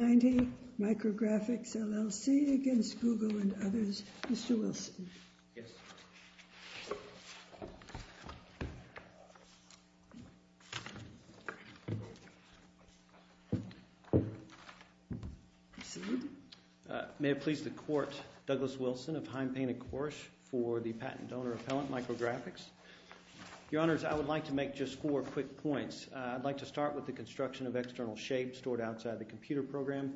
against Google and others. Mr. Wilson. Yes. May it please the Court, Douglas Wilson of Heim Payne & Korsh for the Patent and Donor Appellant, Micrografx. Your Honors, I would like to make just four quick points. I'd like to start with the construction of external shape stored outside the computer program.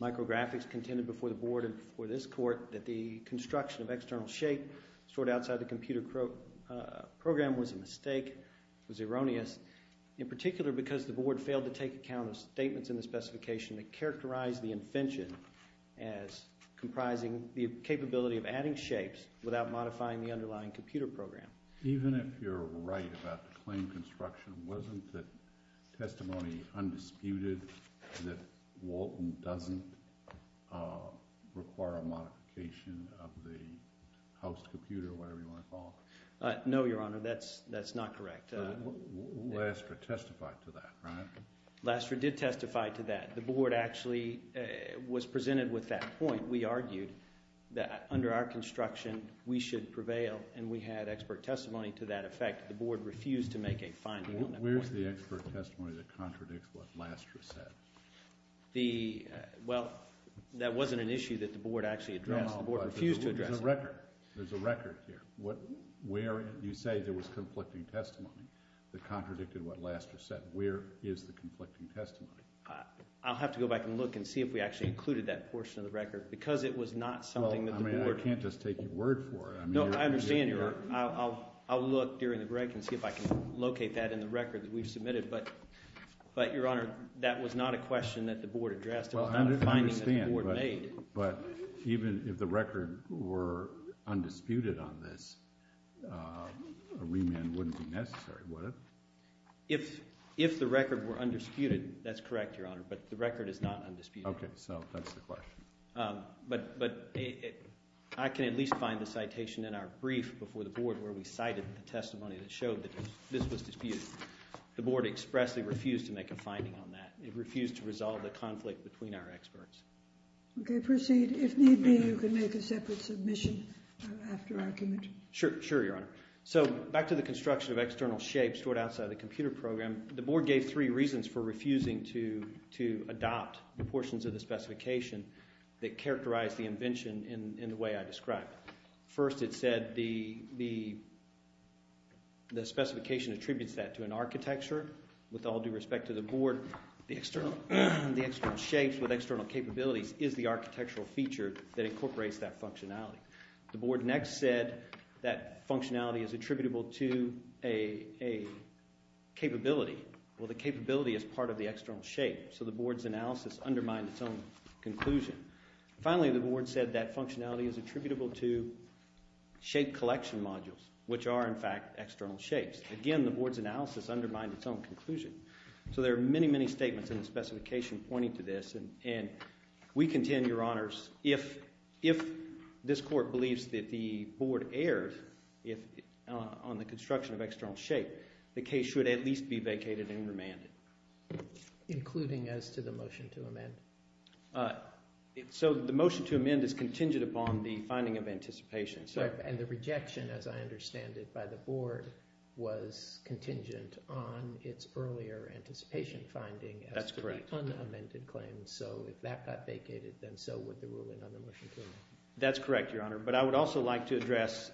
Micrografx contended before the Board and before this Court that the construction of external shape stored outside the computer program was a mistake, was erroneous, in particular because the Board failed to take account of statements in the specification that characterized the invention as comprising the capability of adding shapes without modifying the underlying computer program. Even if you're right about the claim construction, wasn't the testimony undisputed that Walton doesn't require a modification of the house computer or whatever you want to call it? No, Your Honor, that's not correct. Laster testified to that, right? Laster did testify to that. The Board actually was presented with that point. We argued that under our construction, we should prevail and we had expert testimony to that effect. The Board refused to make a finding on that point. Where's the expert testimony that contradicts what Laster said? Well, that wasn't an issue that the Board actually addressed. The Board refused to address it. There's a record here. Where you say there was conflicting testimony that contradicted what Laster said, where is the conflicting testimony? I'll have to go back and look and see if we actually included that portion of the record because it was not something that the Board. I mean, I can't just take your word for it. No, I understand, Your Honor. I'll look during the break and see if I can locate that in the record that we've submitted. But, Your Honor, that was not a question that the Board addressed. It was not a finding that the Board made. But even if the record were undisputed on this, a remand wouldn't be necessary, would it? If the record were undisputed, that's correct, Your Honor, but the record is not undisputed. Okay, so that's the question. But I can at least find the citation in our brief before the Board where we cited the testimony that showed that this was disputed. The Board expressly refused to make a finding on that. It refused to resolve the conflict between our experts. Okay, proceed. If need be, you can make a separate submission after argument. Sure, Your Honor. So, back to the construction of external shapes stored outside of the computer program, the Board gave three reasons for refusing to adopt the portions of the specification that characterized the invention in the way I described. First, it said the specification attributes that to an architecture. With all due respect to the Board, the external shapes with external capabilities is the architectural feature that incorporates that functionality. The Board next said that functionality is attributable to a capability. Well, the capability is part of the external shape, so the Board's analysis undermined its own conclusion. Finally, the Board said that functionality is attributable to shape collection modules, which are, in fact, external shapes. Again, the Board's analysis undermined its own conclusion. So, there are many, many statements in the specification pointing to this, and we contend, Your Honors, if this Court believes that the Board erred on the construction of external shape, the case should at least be vacated and remanded. Including as to the motion to amend? So, the motion to amend is contingent upon the finding of anticipation. And the rejection, as I understand it, by the Board was contingent on its earlier anticipation finding as to the unamended claim. So, if that got vacated, then so would the ruling on the motion to amend. That's correct, Your Honor. But I would also like to address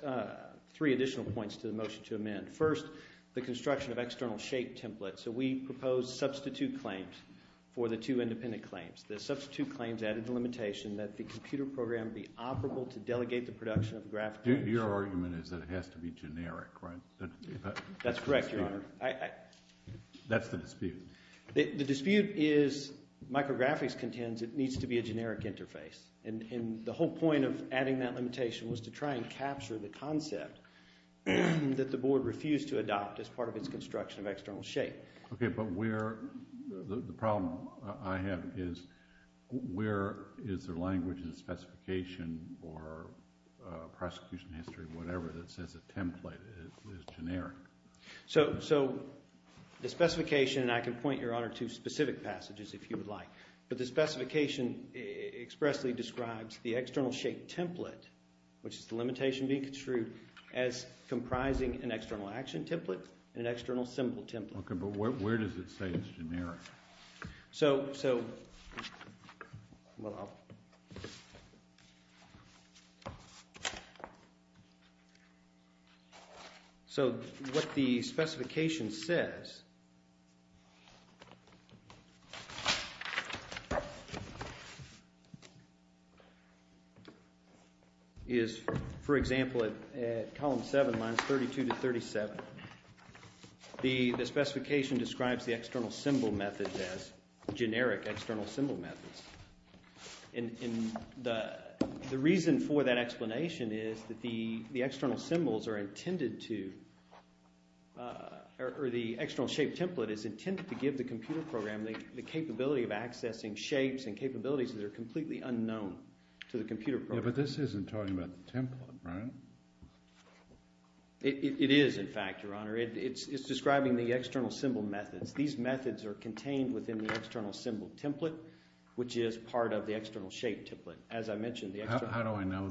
three additional points to the motion to amend. First, the construction of external shape templates. So, we proposed substitute claims for the two independent claims. The substitute claims added the limitation that the computer program be operable to delegate the production of graphics. Your argument is that it has to be generic, right? That's correct, Your Honor. That's the dispute. The dispute is micrographics needs to be a generic interface. And the whole point of adding that limitation was to try and capture the concept that the Board refused to adopt as part of its construction of external shape. Okay, but where, the problem I have is, where is their language and specification or prosecution history, whatever, that says a template is generic? So, the specification, and I can point, Your Honor, to specific passages if you would like. But the specification expressly describes the external shape template, which is the limitation being construed as comprising an external action template and an external symbol template. Okay, but where does it say it's generic? So, what the specification says, is, for example, at column 7, lines 32 to 37, the specification describes the external symbol method as generic external symbol methods. And the reason for that explanation is that the external symbols are intended to, or the external shape template is intended to give the computer program the capability of accessing shapes and capabilities that are completely unknown to the computer program. Yeah, but this isn't talking about the template, right? It is, in fact, Your Honor. It's describing the external symbol methods. These methods are contained within the external symbol template, which is part of the external shape template. As I mentioned, the external... How do I know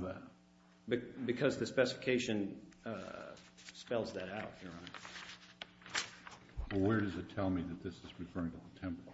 that? Because the specification spells that out, Your Honor. Well, where does it tell me that this is referring to the template?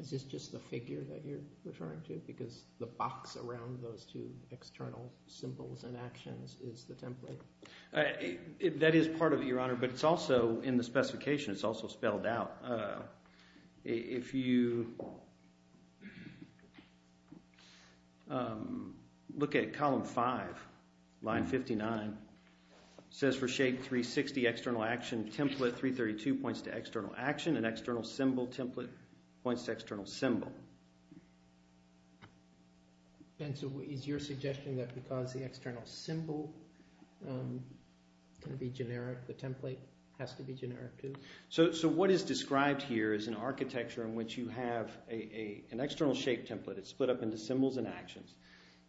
Is this just the figure that you're referring to? Because the box around those two external symbols and actions is the template? That is part of it, Your Honor, but it's also, in the specification, it's also spelled out. If you look at column 5, line 59, says for shape 360 external action template, 332 points to external action, an external symbol template points to external symbol. And so is your suggestion that because the external symbol can be generic, the template has to be generic too? So what is described here is an architecture in which you have an external shape template. It's split up into symbols and actions.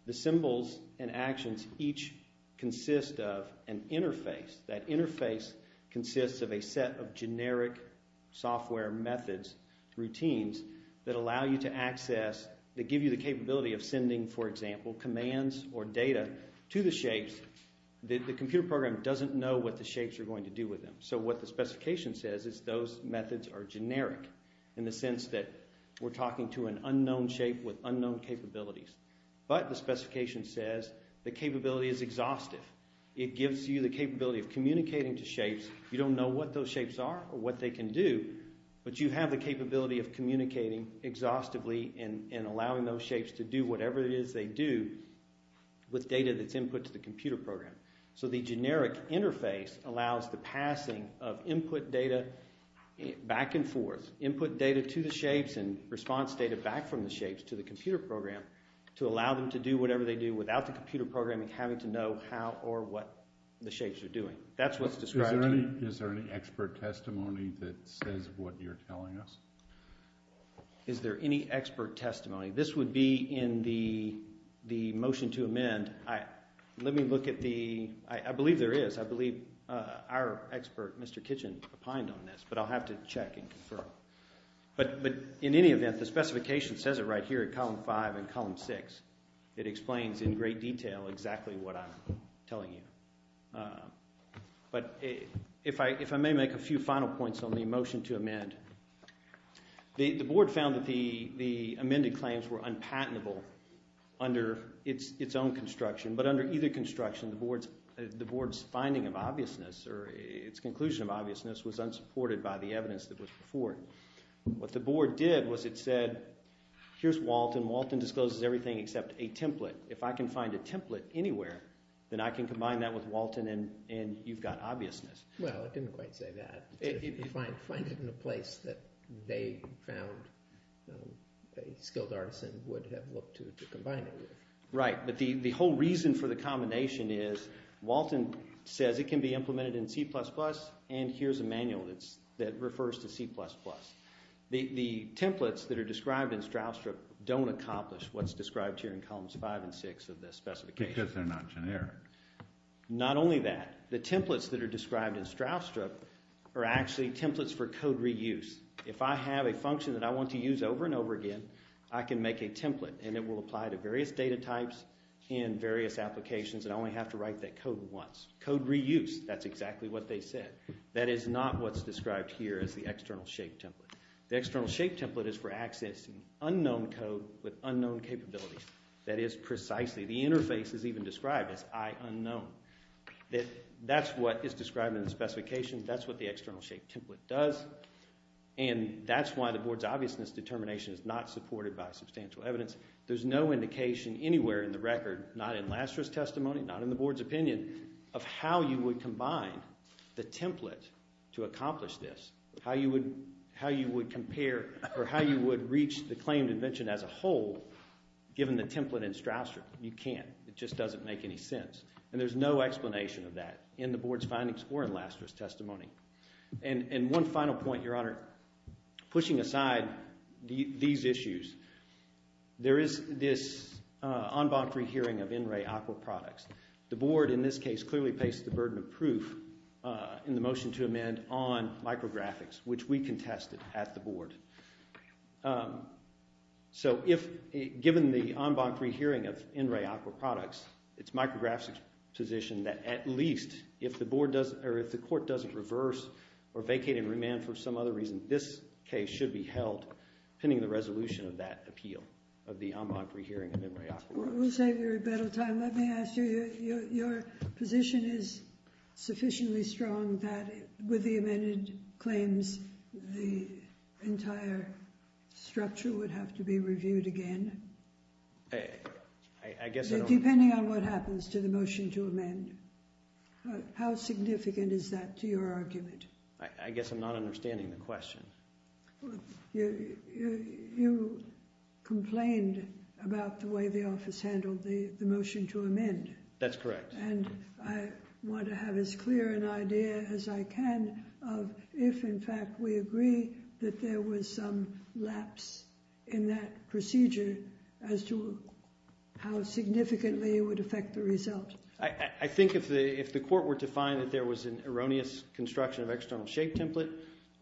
The symbols and actions each consist of an interface. That interface consists of a set of generic software methods, routines, that allow you to access, that give you the capability of sending, for example, commands or data to the shapes. The computer program doesn't know what the shapes are going to do with them. So what the specification says is those methods are generic in the sense that we're talking to an unknown shape with unknown capabilities. But the specification says the capability is exhaustive. It gives you the capability of communicating to shapes. You don't know what those shapes are or what they can do, but you have the capability of communicating exhaustively and allowing those shapes to do whatever it is they do with data that's input to the computer program. So the generic interface allows the passing of input data back and forth, input data to the shapes and response data back from the shapes to the computer program to allow them to do whatever they do without the computer programming having to know how or what the shapes are doing. That's what's described. Is there any expert testimony that says what you're telling us? Is there any expert testimony? This would be in the motion to amend. Let me look at the, I believe there is. I believe our expert, Mr. Kitchen, opined on this, but I'll have to check and confirm. But in any event, the specification says it right here at column five and column six. It explains in great detail exactly what I'm telling you. But if I may make a few final points on the motion to amend. The board found that the amended claims were unpatentable under its own construction, but under either construction, the board's finding of obviousness or its conclusion of obviousness was unsupported by the evidence that was before. What the board did was it said, here's Walton. Walton discloses everything except a template. If I can find a template anywhere, then I can combine that with Walton and you've got obviousness. Well, it didn't quite say that. If you find it in a place that they found a skilled artisan would have looked to combine it with. Right, but the whole reason for the combination is and here's a manual that refers to C++. The templates that are described in Stroustrup don't accomplish what's described here in columns five and six of this specification. Because they're not generic. Not only that, the templates that are described in Stroustrup are actually templates for code reuse. If I have a function that I want to use over and over again, I can make a template and it will apply to various data types in various applications and I only have to write that code once. Code reuse, that's exactly what they said. That is not what's described here as the external shape template. The external shape template is for accessing unknown code with unknown capabilities. That is precisely, the interface is even described as I unknown. That's what is described in the specification. That's what the external shape template does and that's why the board's obviousness determination is not supported by substantial evidence. There's no indication anywhere in the record, not in Laster's testimony, not in the board's opinion, of how you would combine the template to accomplish this. How you would compare or how you would reach the claimed invention as a whole given the template in Stroustrup. You can't. It just doesn't make any sense and there's no explanation of that in the board's findings or in Laster's testimony. And one final point, Your Honor. Pushing aside these issues, there is this en banc rehearing of in-ray aqua products. The board in this case clearly placed the burden of proof in the motion to amend on micrographics, which we contested at the board. So if given the en banc rehearing of in-ray aqua products, it's micrographic's position that at least if the board doesn't or if the court doesn't reverse or vacate and remand for some other reason, this case should be held pending the resolution of that appeal of the en banc rehearing of in-ray aqua products. We'll save your rebuttal time. Let me ask you, your position is sufficiently strong that with the amended claims the entire structure would have to be reviewed again? I guess I don't... Depending on what happens to the motion to amend, how significant is that to your argument? I guess I'm not understanding the question. You complained about the way the office handled the motion to amend. That's correct. And I want to have as clear an idea as I can of if in fact we agree that there was some lapse in that procedure as to how significantly it would affect the result. I think if the court were to find that there was an erroneous construction of external shape template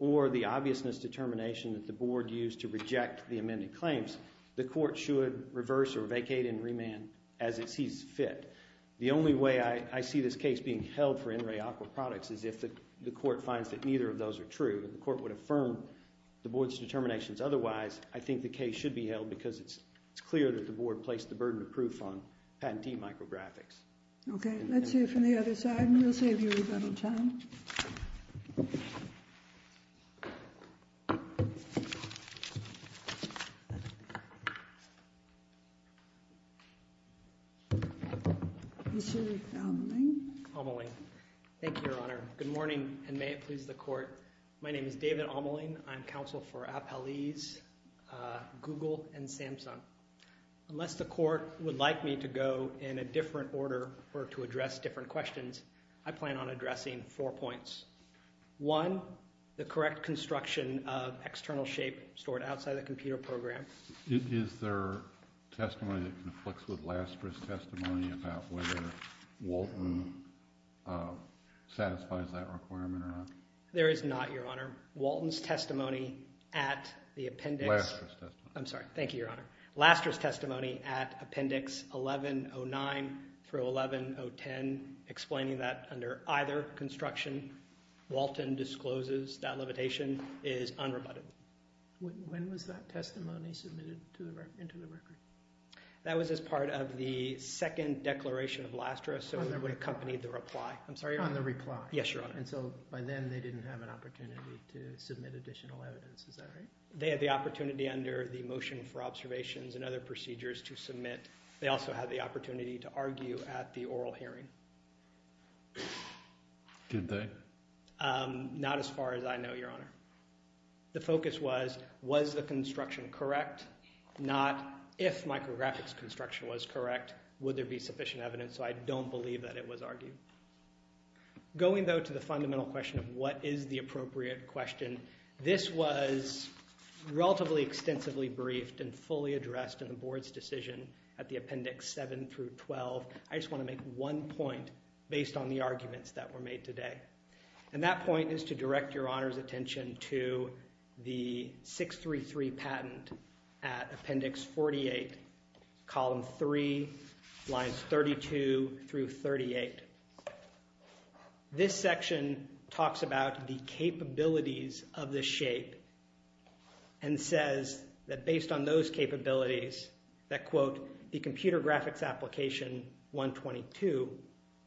or the obviousness determination that the board used to reject the amended claims, the court should reverse or vacate and remand as it sees fit. The only way I see this case being held for in-ray aqua products is if the court finds that neither of those are true. The court would affirm the board's determinations otherwise I think the case should be held because it's it's clear that the board placed the burden of proof on patentee micrographics. Okay, let's hear from the other side and we'll save you a little time. Thank you, your honor. Good morning and may it please the court. My name is David Omeling. I'm counsel for Appalese, Google, and Samsung. Unless the court would like me to go in a different order or to address different questions, I plan on addressing four points. One, the correct construction of external shape stored outside the computer program. Is there testimony that conflicts with Lasker's testimony about whether Walton satisfies that requirement or not? There is not, your honor. Walton's testimony at the appendix. Lasker's testimony. I'm sorry, thank you, your honor. Lasker's testimony at appendix 1109 through 1110 explaining that under either construction, Walton discloses that levitation is unrebutted. When was that testimony submitted to the record? That was as part of the second declaration of Lasker so that would accompany the reply. I'm sorry, on the reply. Yes, your honor. And so by then they didn't have an opportunity to submit additional evidence, is that right? They had the opportunity under the motion for observations and other procedures to submit. They also had the opportunity to argue at the oral hearing. Did they? Not as far as I know, your honor. The focus was, was the construction correct? Not, if micrographics construction was correct, would there be sufficient evidence? So I don't believe that it was argued. Going though to the fundamental question of what is the appropriate question, this was relatively extensively briefed and fully addressed in the board's decision at the appendix 7 through 12. I just want to make one point based on the arguments that were made today. And that point is to direct your honor's attention to the 633 patent at appendix 48, column 3, lines 32 through 38. This section talks about the capabilities of the shape and says that based on those capabilities, that quote, the computer graphics application 122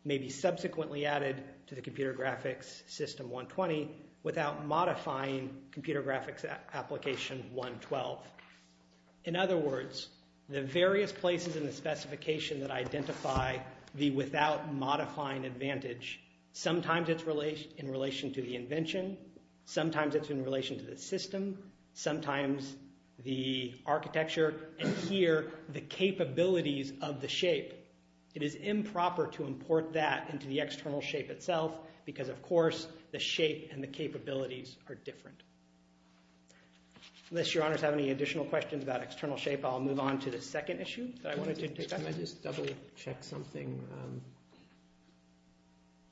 may be subsequently added to the computer graphics system 120 without modifying computer graphics application 112. In other words, the various places in the specification that identify the without modifying advantage, sometimes it's in relation to the invention, sometimes it's in relation to the system, sometimes the architecture, and here the capabilities of the shape. It is improper to import that into the external shape itself because of course the shape and the capabilities are different. Unless your honors have any additional questions about external shape, I'll move on to the second issue. Can I just double check something?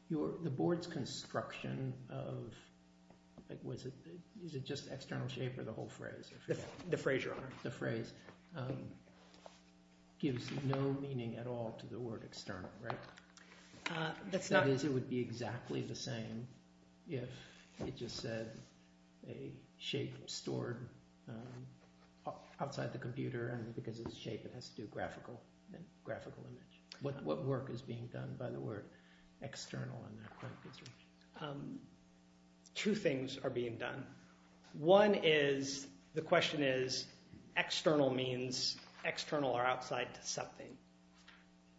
The board's construction of, was it, is it just external shape or the whole phrase? The phrase, your honor. The phrase gives no meaning at all to the word external, right? That's not. It would be exactly the same if it just said a shape stored outside the computer and because of the shape it has to do graphical, then graphical image. What work is being done by the word external on that point? Two things are being done. One is, the question is, external means external or outside to something.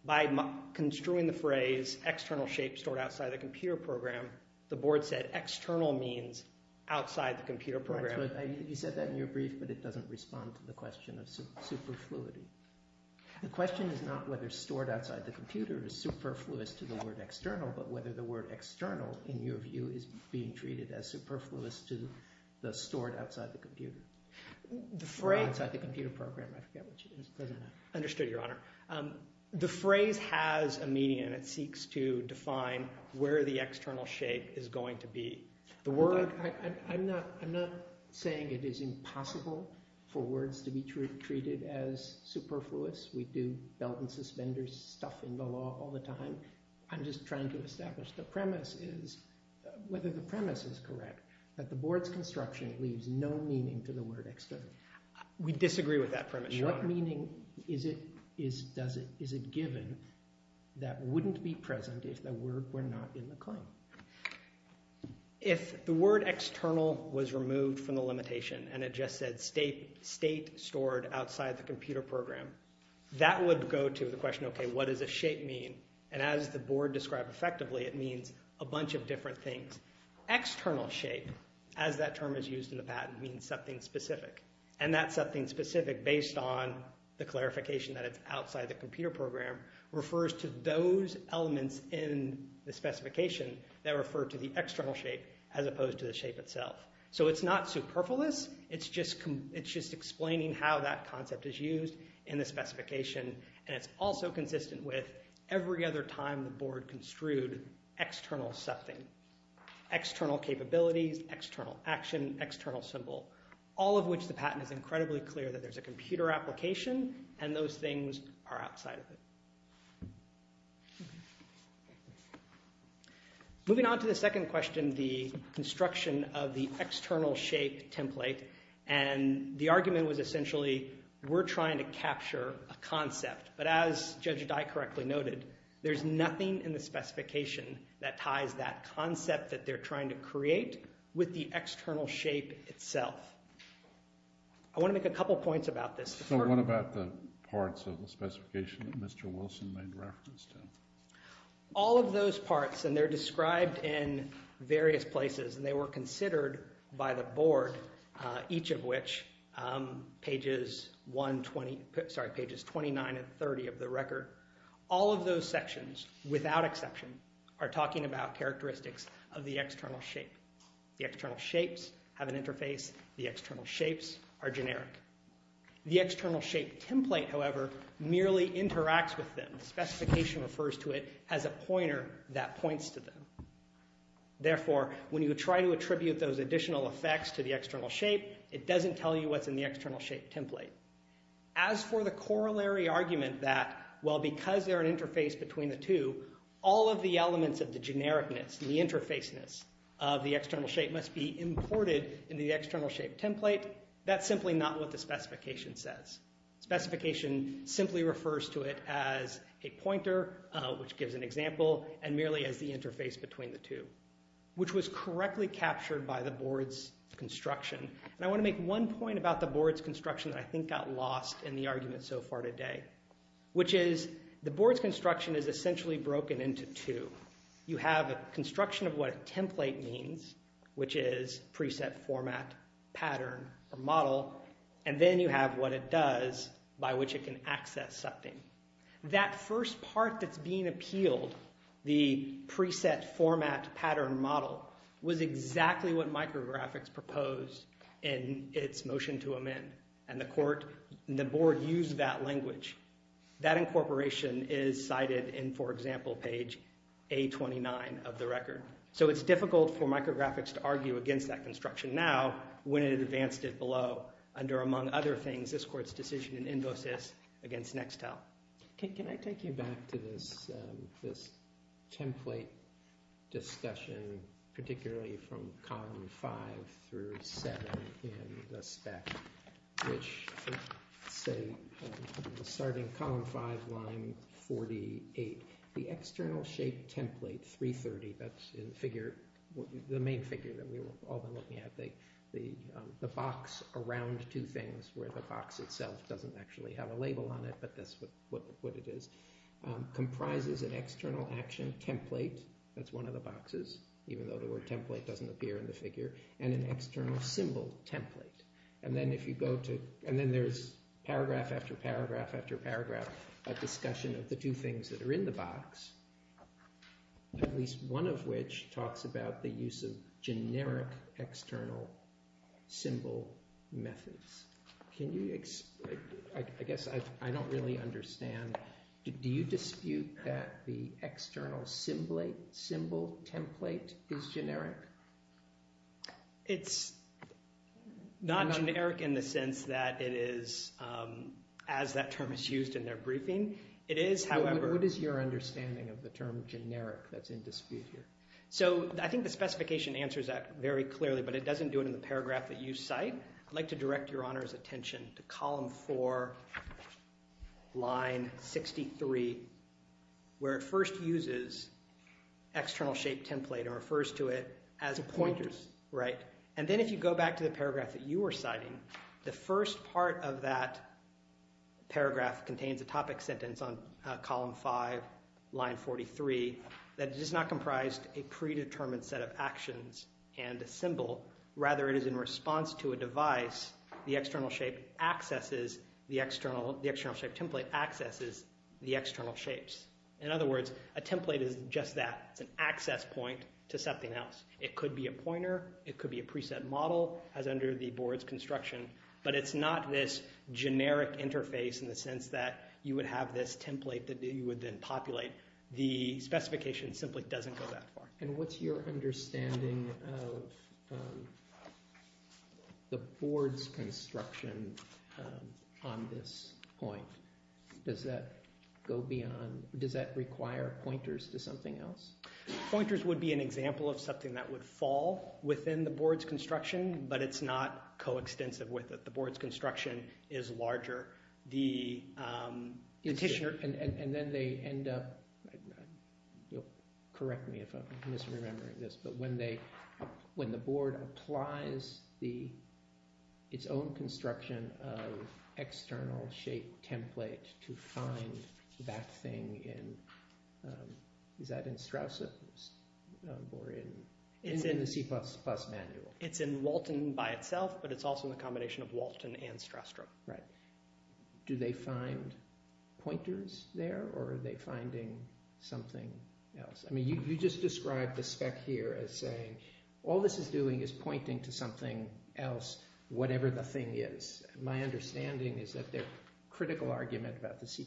By construing the phrase external shape stored outside the computer program, the board said external means outside the computer program. You said that in your brief, but it doesn't respond to the question of superfluity. The question is not whether stored outside the computer is superfluous to the word external, but whether the word external, in your view, is being treated as superfluous to the stored outside the computer. The phrase. Or outside the computer program. I forget what it is. Understood, your honor. The phrase has a meaning and it seeks to define where the external shape is going to be. The word. I'm not saying it is impossible for words to be treated as superfluous. We do belt and suspenders stuff in the law all the time. I'm just trying to establish the premise is, whether the premise is correct, that the board's construction leaves no meaning to the word external. We disagree with that premise, your honor. What meaning is it given that wouldn't be present if the word were not in the claim? If the word external was removed from the limitation and it just said state stored outside the computer program, that would go to the question, okay, what does a shape mean? And as the board described effectively, it means a bunch of different things. External shape, as that term is used in the patent, means something specific. That's something specific based on the clarification that it's outside the computer program refers to those elements in the specification that refer to the external shape as opposed to the shape itself. So it's not superfluous. It's just explaining how that concept is used in the specification and it's also consistent with every other time the board construed external something. External capabilities, external action, external symbol. All of which the patent is incredibly clear that there's a computer application and those things are outside of it. Moving on to the second question, the construction of the external shape template, and the argument was essentially we're trying to capture a concept, but as Judge Dye correctly noted, there's nothing in the specification that ties that concept that they're trying to create with the external shape itself. I want to make a couple points about this. So what about the parts of the specification that Mr. Wilson made reference to? All of those parts, and they're described in various places, and they were considered by the board, each of which, pages 1, 20, sorry, pages 29 and 30 of the record. All of those sections, without exception, are talking about characteristics of the external shape. The external shapes have an interface. The external shapes are generic. The external shape template, however, merely interacts with them. The specification refers to it as a pointer that points to them. Therefore, when you try to attribute those additional effects to the external shape, it doesn't tell you what's in the external shape template. As for the corollary argument that, well, because they're an interface between the two, all of the elements of the genericness, the interfaceness of the external shape must be imported in the external shape template, that's simply not what the specification says. Specification simply refers to it as a pointer, which gives an example, and merely as the interface between the two, which was correctly captured by the board's construction. And I want to make one point about the board's construction that I think got lost in the two. You have a construction of what a template means, which is preset format, pattern, or model, and then you have what it does by which it can access something. That first part that's being appealed, the preset format, pattern, model, was exactly what micrographics proposed in its motion to amend, and the board used that language. That incorporation is cited in, for example, page A29 of the record. So it's difficult for micrographics to argue against that construction now when it advanced it below under, among other things, this court's decision in invo-sys against next-tel. Can I take you back to this template discussion, particularly from column five through seven in the spec, which, say, starting column five, line 48, the external shape template 330, that's in the figure, the main figure that we were, all of them that we have, the box around two things where the box itself doesn't actually have a label on it, but that's what it is, comprises an external action template, that's one of the boxes, even though the word template doesn't appear in the figure, and an external symbol template. And then if you go to, and then there's paragraph after paragraph after paragraph of discussion of the two things that are in the box, at least one of which talks about the use of generic external symbol methods. Can you, I guess I don't really understand, do you dispute that the external symbol template is generic? It's not generic in the sense that it is, as that term is used in their briefing, it is, however. What is your understanding of the term generic that's in dispute here? So I think the specification answers that very clearly, but it doesn't do it in the paragraph that you cite. I'd like to direct your Honor's attention to column four, line 63, where it first uses external shape template and refers to it as a pointer. And then if you go back to the paragraph that you were citing, the first part of that paragraph contains a topic sentence on column five, line 43, that it is not comprised a predetermined set of actions and a symbol, rather it is in response to a device, the external shape template accesses the external shapes. In other words, a template is just that, it's an access point to something else. It could be a pointer, it could be a preset model as under the board's construction, but it's not this generic interface in the sense that you would have this template that you would then populate. The specification simply doesn't go that far. And what's your understanding of the board's construction on this point? Does that go beyond, does that require pointers to something else? Pointers would be an example of something that would fall within the board's construction, but it's not co-extensive with it. The board's construction is larger, the petitioner... And then they end up, you'll correct me if I'm misremembering this, but when the board applies its own construction of external shape template to find that thing in, is that in Strauss or in the C++ manual? It's in Walton by itself, but it's also in the combination of Walton and Or are they finding something else? I mean, you just described the spec here as saying, all this is doing is pointing to something else, whatever the thing is. My understanding is that their critical argument about the C++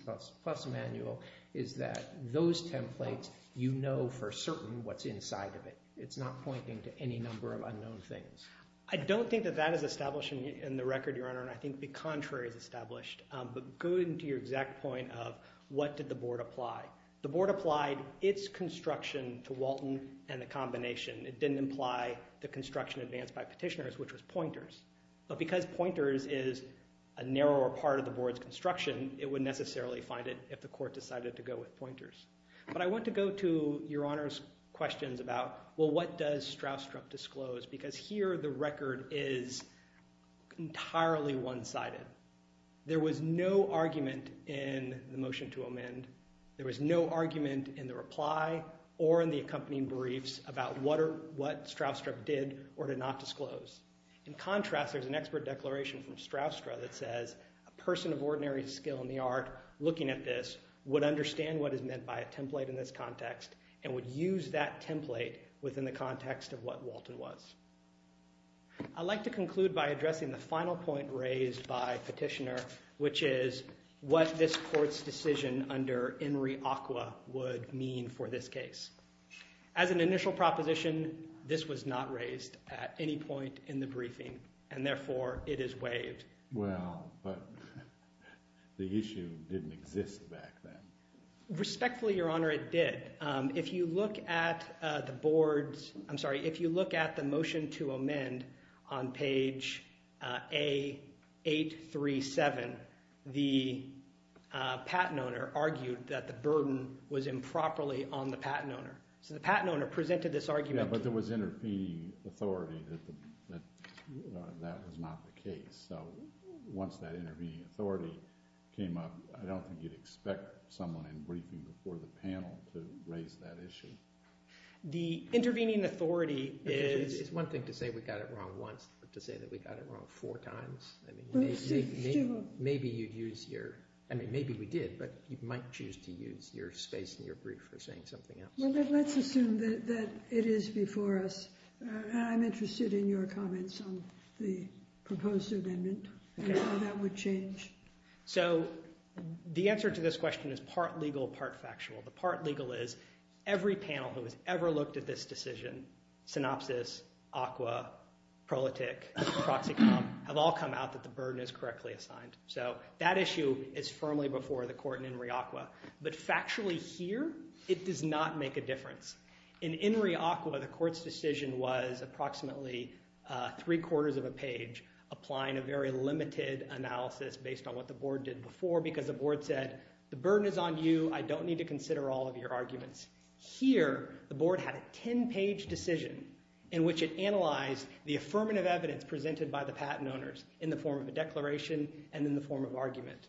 manual is that those templates, you know for certain what's inside of it. It's not pointing to any number of unknown things. I don't think that that is established in the record, Your Honor, and I think the contrary is established. But going to your board, how did the board apply? The board applied its construction to Walton and the combination. It didn't imply the construction advanced by petitioners, which was pointers. But because pointers is a narrower part of the board's construction, it would necessarily find it if the court decided to go with pointers. But I want to go to Your Honor's questions about, well, what does Strauss-Trump disclose? Because here the record is entirely one-sided. There was no There was no argument in the reply or in the accompanying briefs about what Strauss-Trump did or did not disclose. In contrast, there's an expert declaration from Strauss-Trump that says, a person of ordinary skill in the art looking at this would understand what is meant by a template in this context and would use that template within the context of what Walton was. I'd like to conclude by addressing the final point raised by petitioner, which is what this decision under Henry Acqua would mean for this case. As an initial proposition, this was not raised at any point in the briefing, and therefore it is waived. Well, but the issue didn't exist back then. Respectfully, Your Honor, it did. If you look at the board's, I'm sorry, if you look at the motion to amend on page A837, the patent owner argued that the burden was improperly on the patent owner. So the patent owner presented this argument. Yeah, but there was intervening authority that that was not the case. So once that intervening authority came up, I don't think you'd expect someone in briefing before the panel to raise that issue. The It's one thing to say we got it wrong once, but to say that we got it wrong four times, maybe you'd use your, I mean, maybe we did, but you might choose to use your space in your brief for saying something else. Well, let's assume that it is before us. I'm interested in your comments on the proposed amendment and how that would change. So the answer to this question is part legal, part factual. The part legal is every panel who has ever looked at this decision, synopsis, ACWA, proletic, proxy comp, have all come out that the burden is correctly assigned. So that issue is firmly before the court in INRI ACWA. But factually here, it does not make a difference. In INRI ACWA, the court's decision was approximately three quarters of a page, applying a very limited analysis based on what the board did before, because the board said, the burden is on you. I don't need to consider all of your arguments. Here, the board had a 10-page decision in which it analyzed the affirmative evidence presented by the patent owners in the form of a declaration and in the form of argument.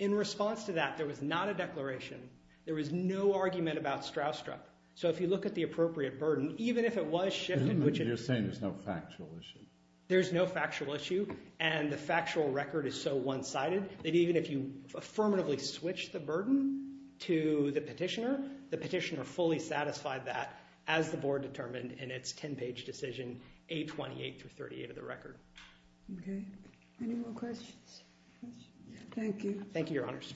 In response to that, there was not a declaration. There was no argument about Stroustrup. So if you look at the appropriate burden, even if it was shifted, which is... You're saying there's no factual issue. There's no factual issue. And the factual record is so one-sided that even if you affirmatively switch the burden to the petitioner, the petitioner fully satisfied that as the board determined in its 10-page decision, 828 through 38 of the record. Okay. Any more questions? Thank you. Thank you, Your Honors.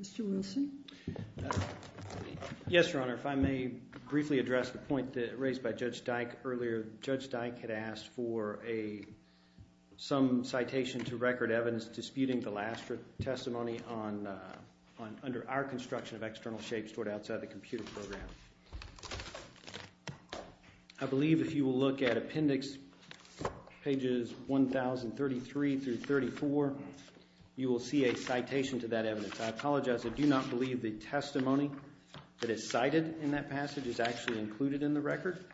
Mr. Wilson? Yes, Your Honor. If I may briefly address the point raised by Judge Dyke earlier. Judge Dyke had asked for some citation to record evidence disputing the last testimony under our construction of external shapes stored outside the computer program. I believe if you will look at appendix pages 1033 through 34, you will see a citation to that evidence. I apologize. I do not believe the testimony that is cited in that passage is actually included in the record.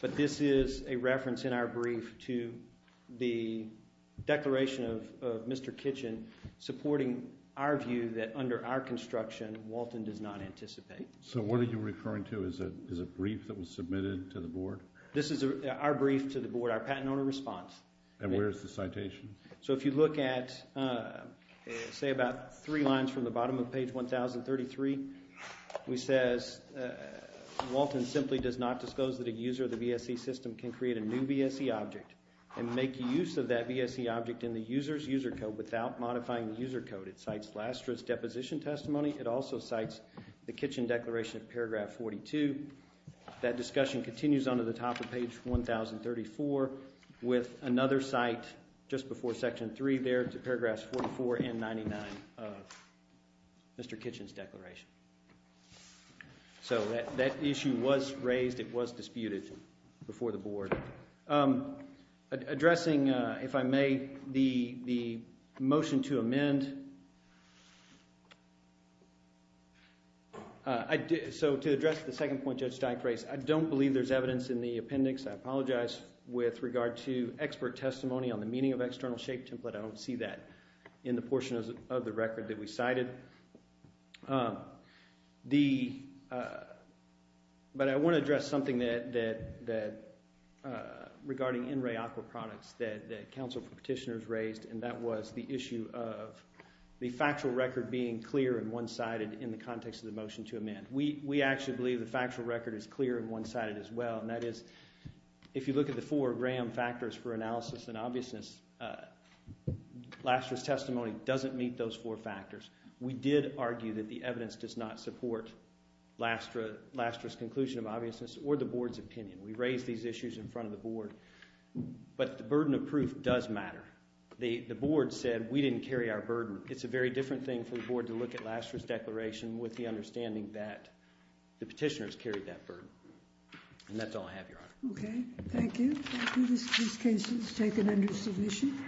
But this is a reference in our brief to the declaration of Mr. Kitchen supporting our view that under our construction, Walton does not anticipate. So what are you referring to? Is it a brief that was submitted to the board? This is our brief to the board, our patent owner response. And where is the citation? So if you look at, say, about three lines from the bottom of page 1033, we say, Walton simply does not disclose that a user of the VSE system can create a new VSE object and make use of that VSE object in the user's user code without modifying the user code. It cites Lastra's deposition testimony. It also cites the Kitchen declaration of paragraph 42. That discussion continues on to the top of page 1034 with another site just before section three there to paragraphs 44 and 99 of Mr. Kitchen's declaration. So that issue was raised. It was disputed before the board. Addressing, if I may, the motion to amend. So to address the second point Judge Steich raised, I don't believe there's evidence in the appendix. I apologize. With regard to expert testimony on the meaning of external shape template, I don't see that in the portion of the record that we cited. But I want to address something regarding NREA aqua products that counsel petitioners raised, and that was the issue of the factual record being clear and one-sided in the context of the motion to amend. We actually believe the factual record is clear and one-sided as well. And that is, if you look at the four RAM factors for analysis and obviousness, Lastra's testimony doesn't meet those four factors. We did argue that the evidence does not support Lastra's conclusion of obviousness or the board's opinion. We raised these issues in front of the board. But the burden of proof does matter. The board said we didn't carry our burden. It's a very different thing for the board to look at Lastra's declaration with the Thank you. Thank you. This case is taken under submission.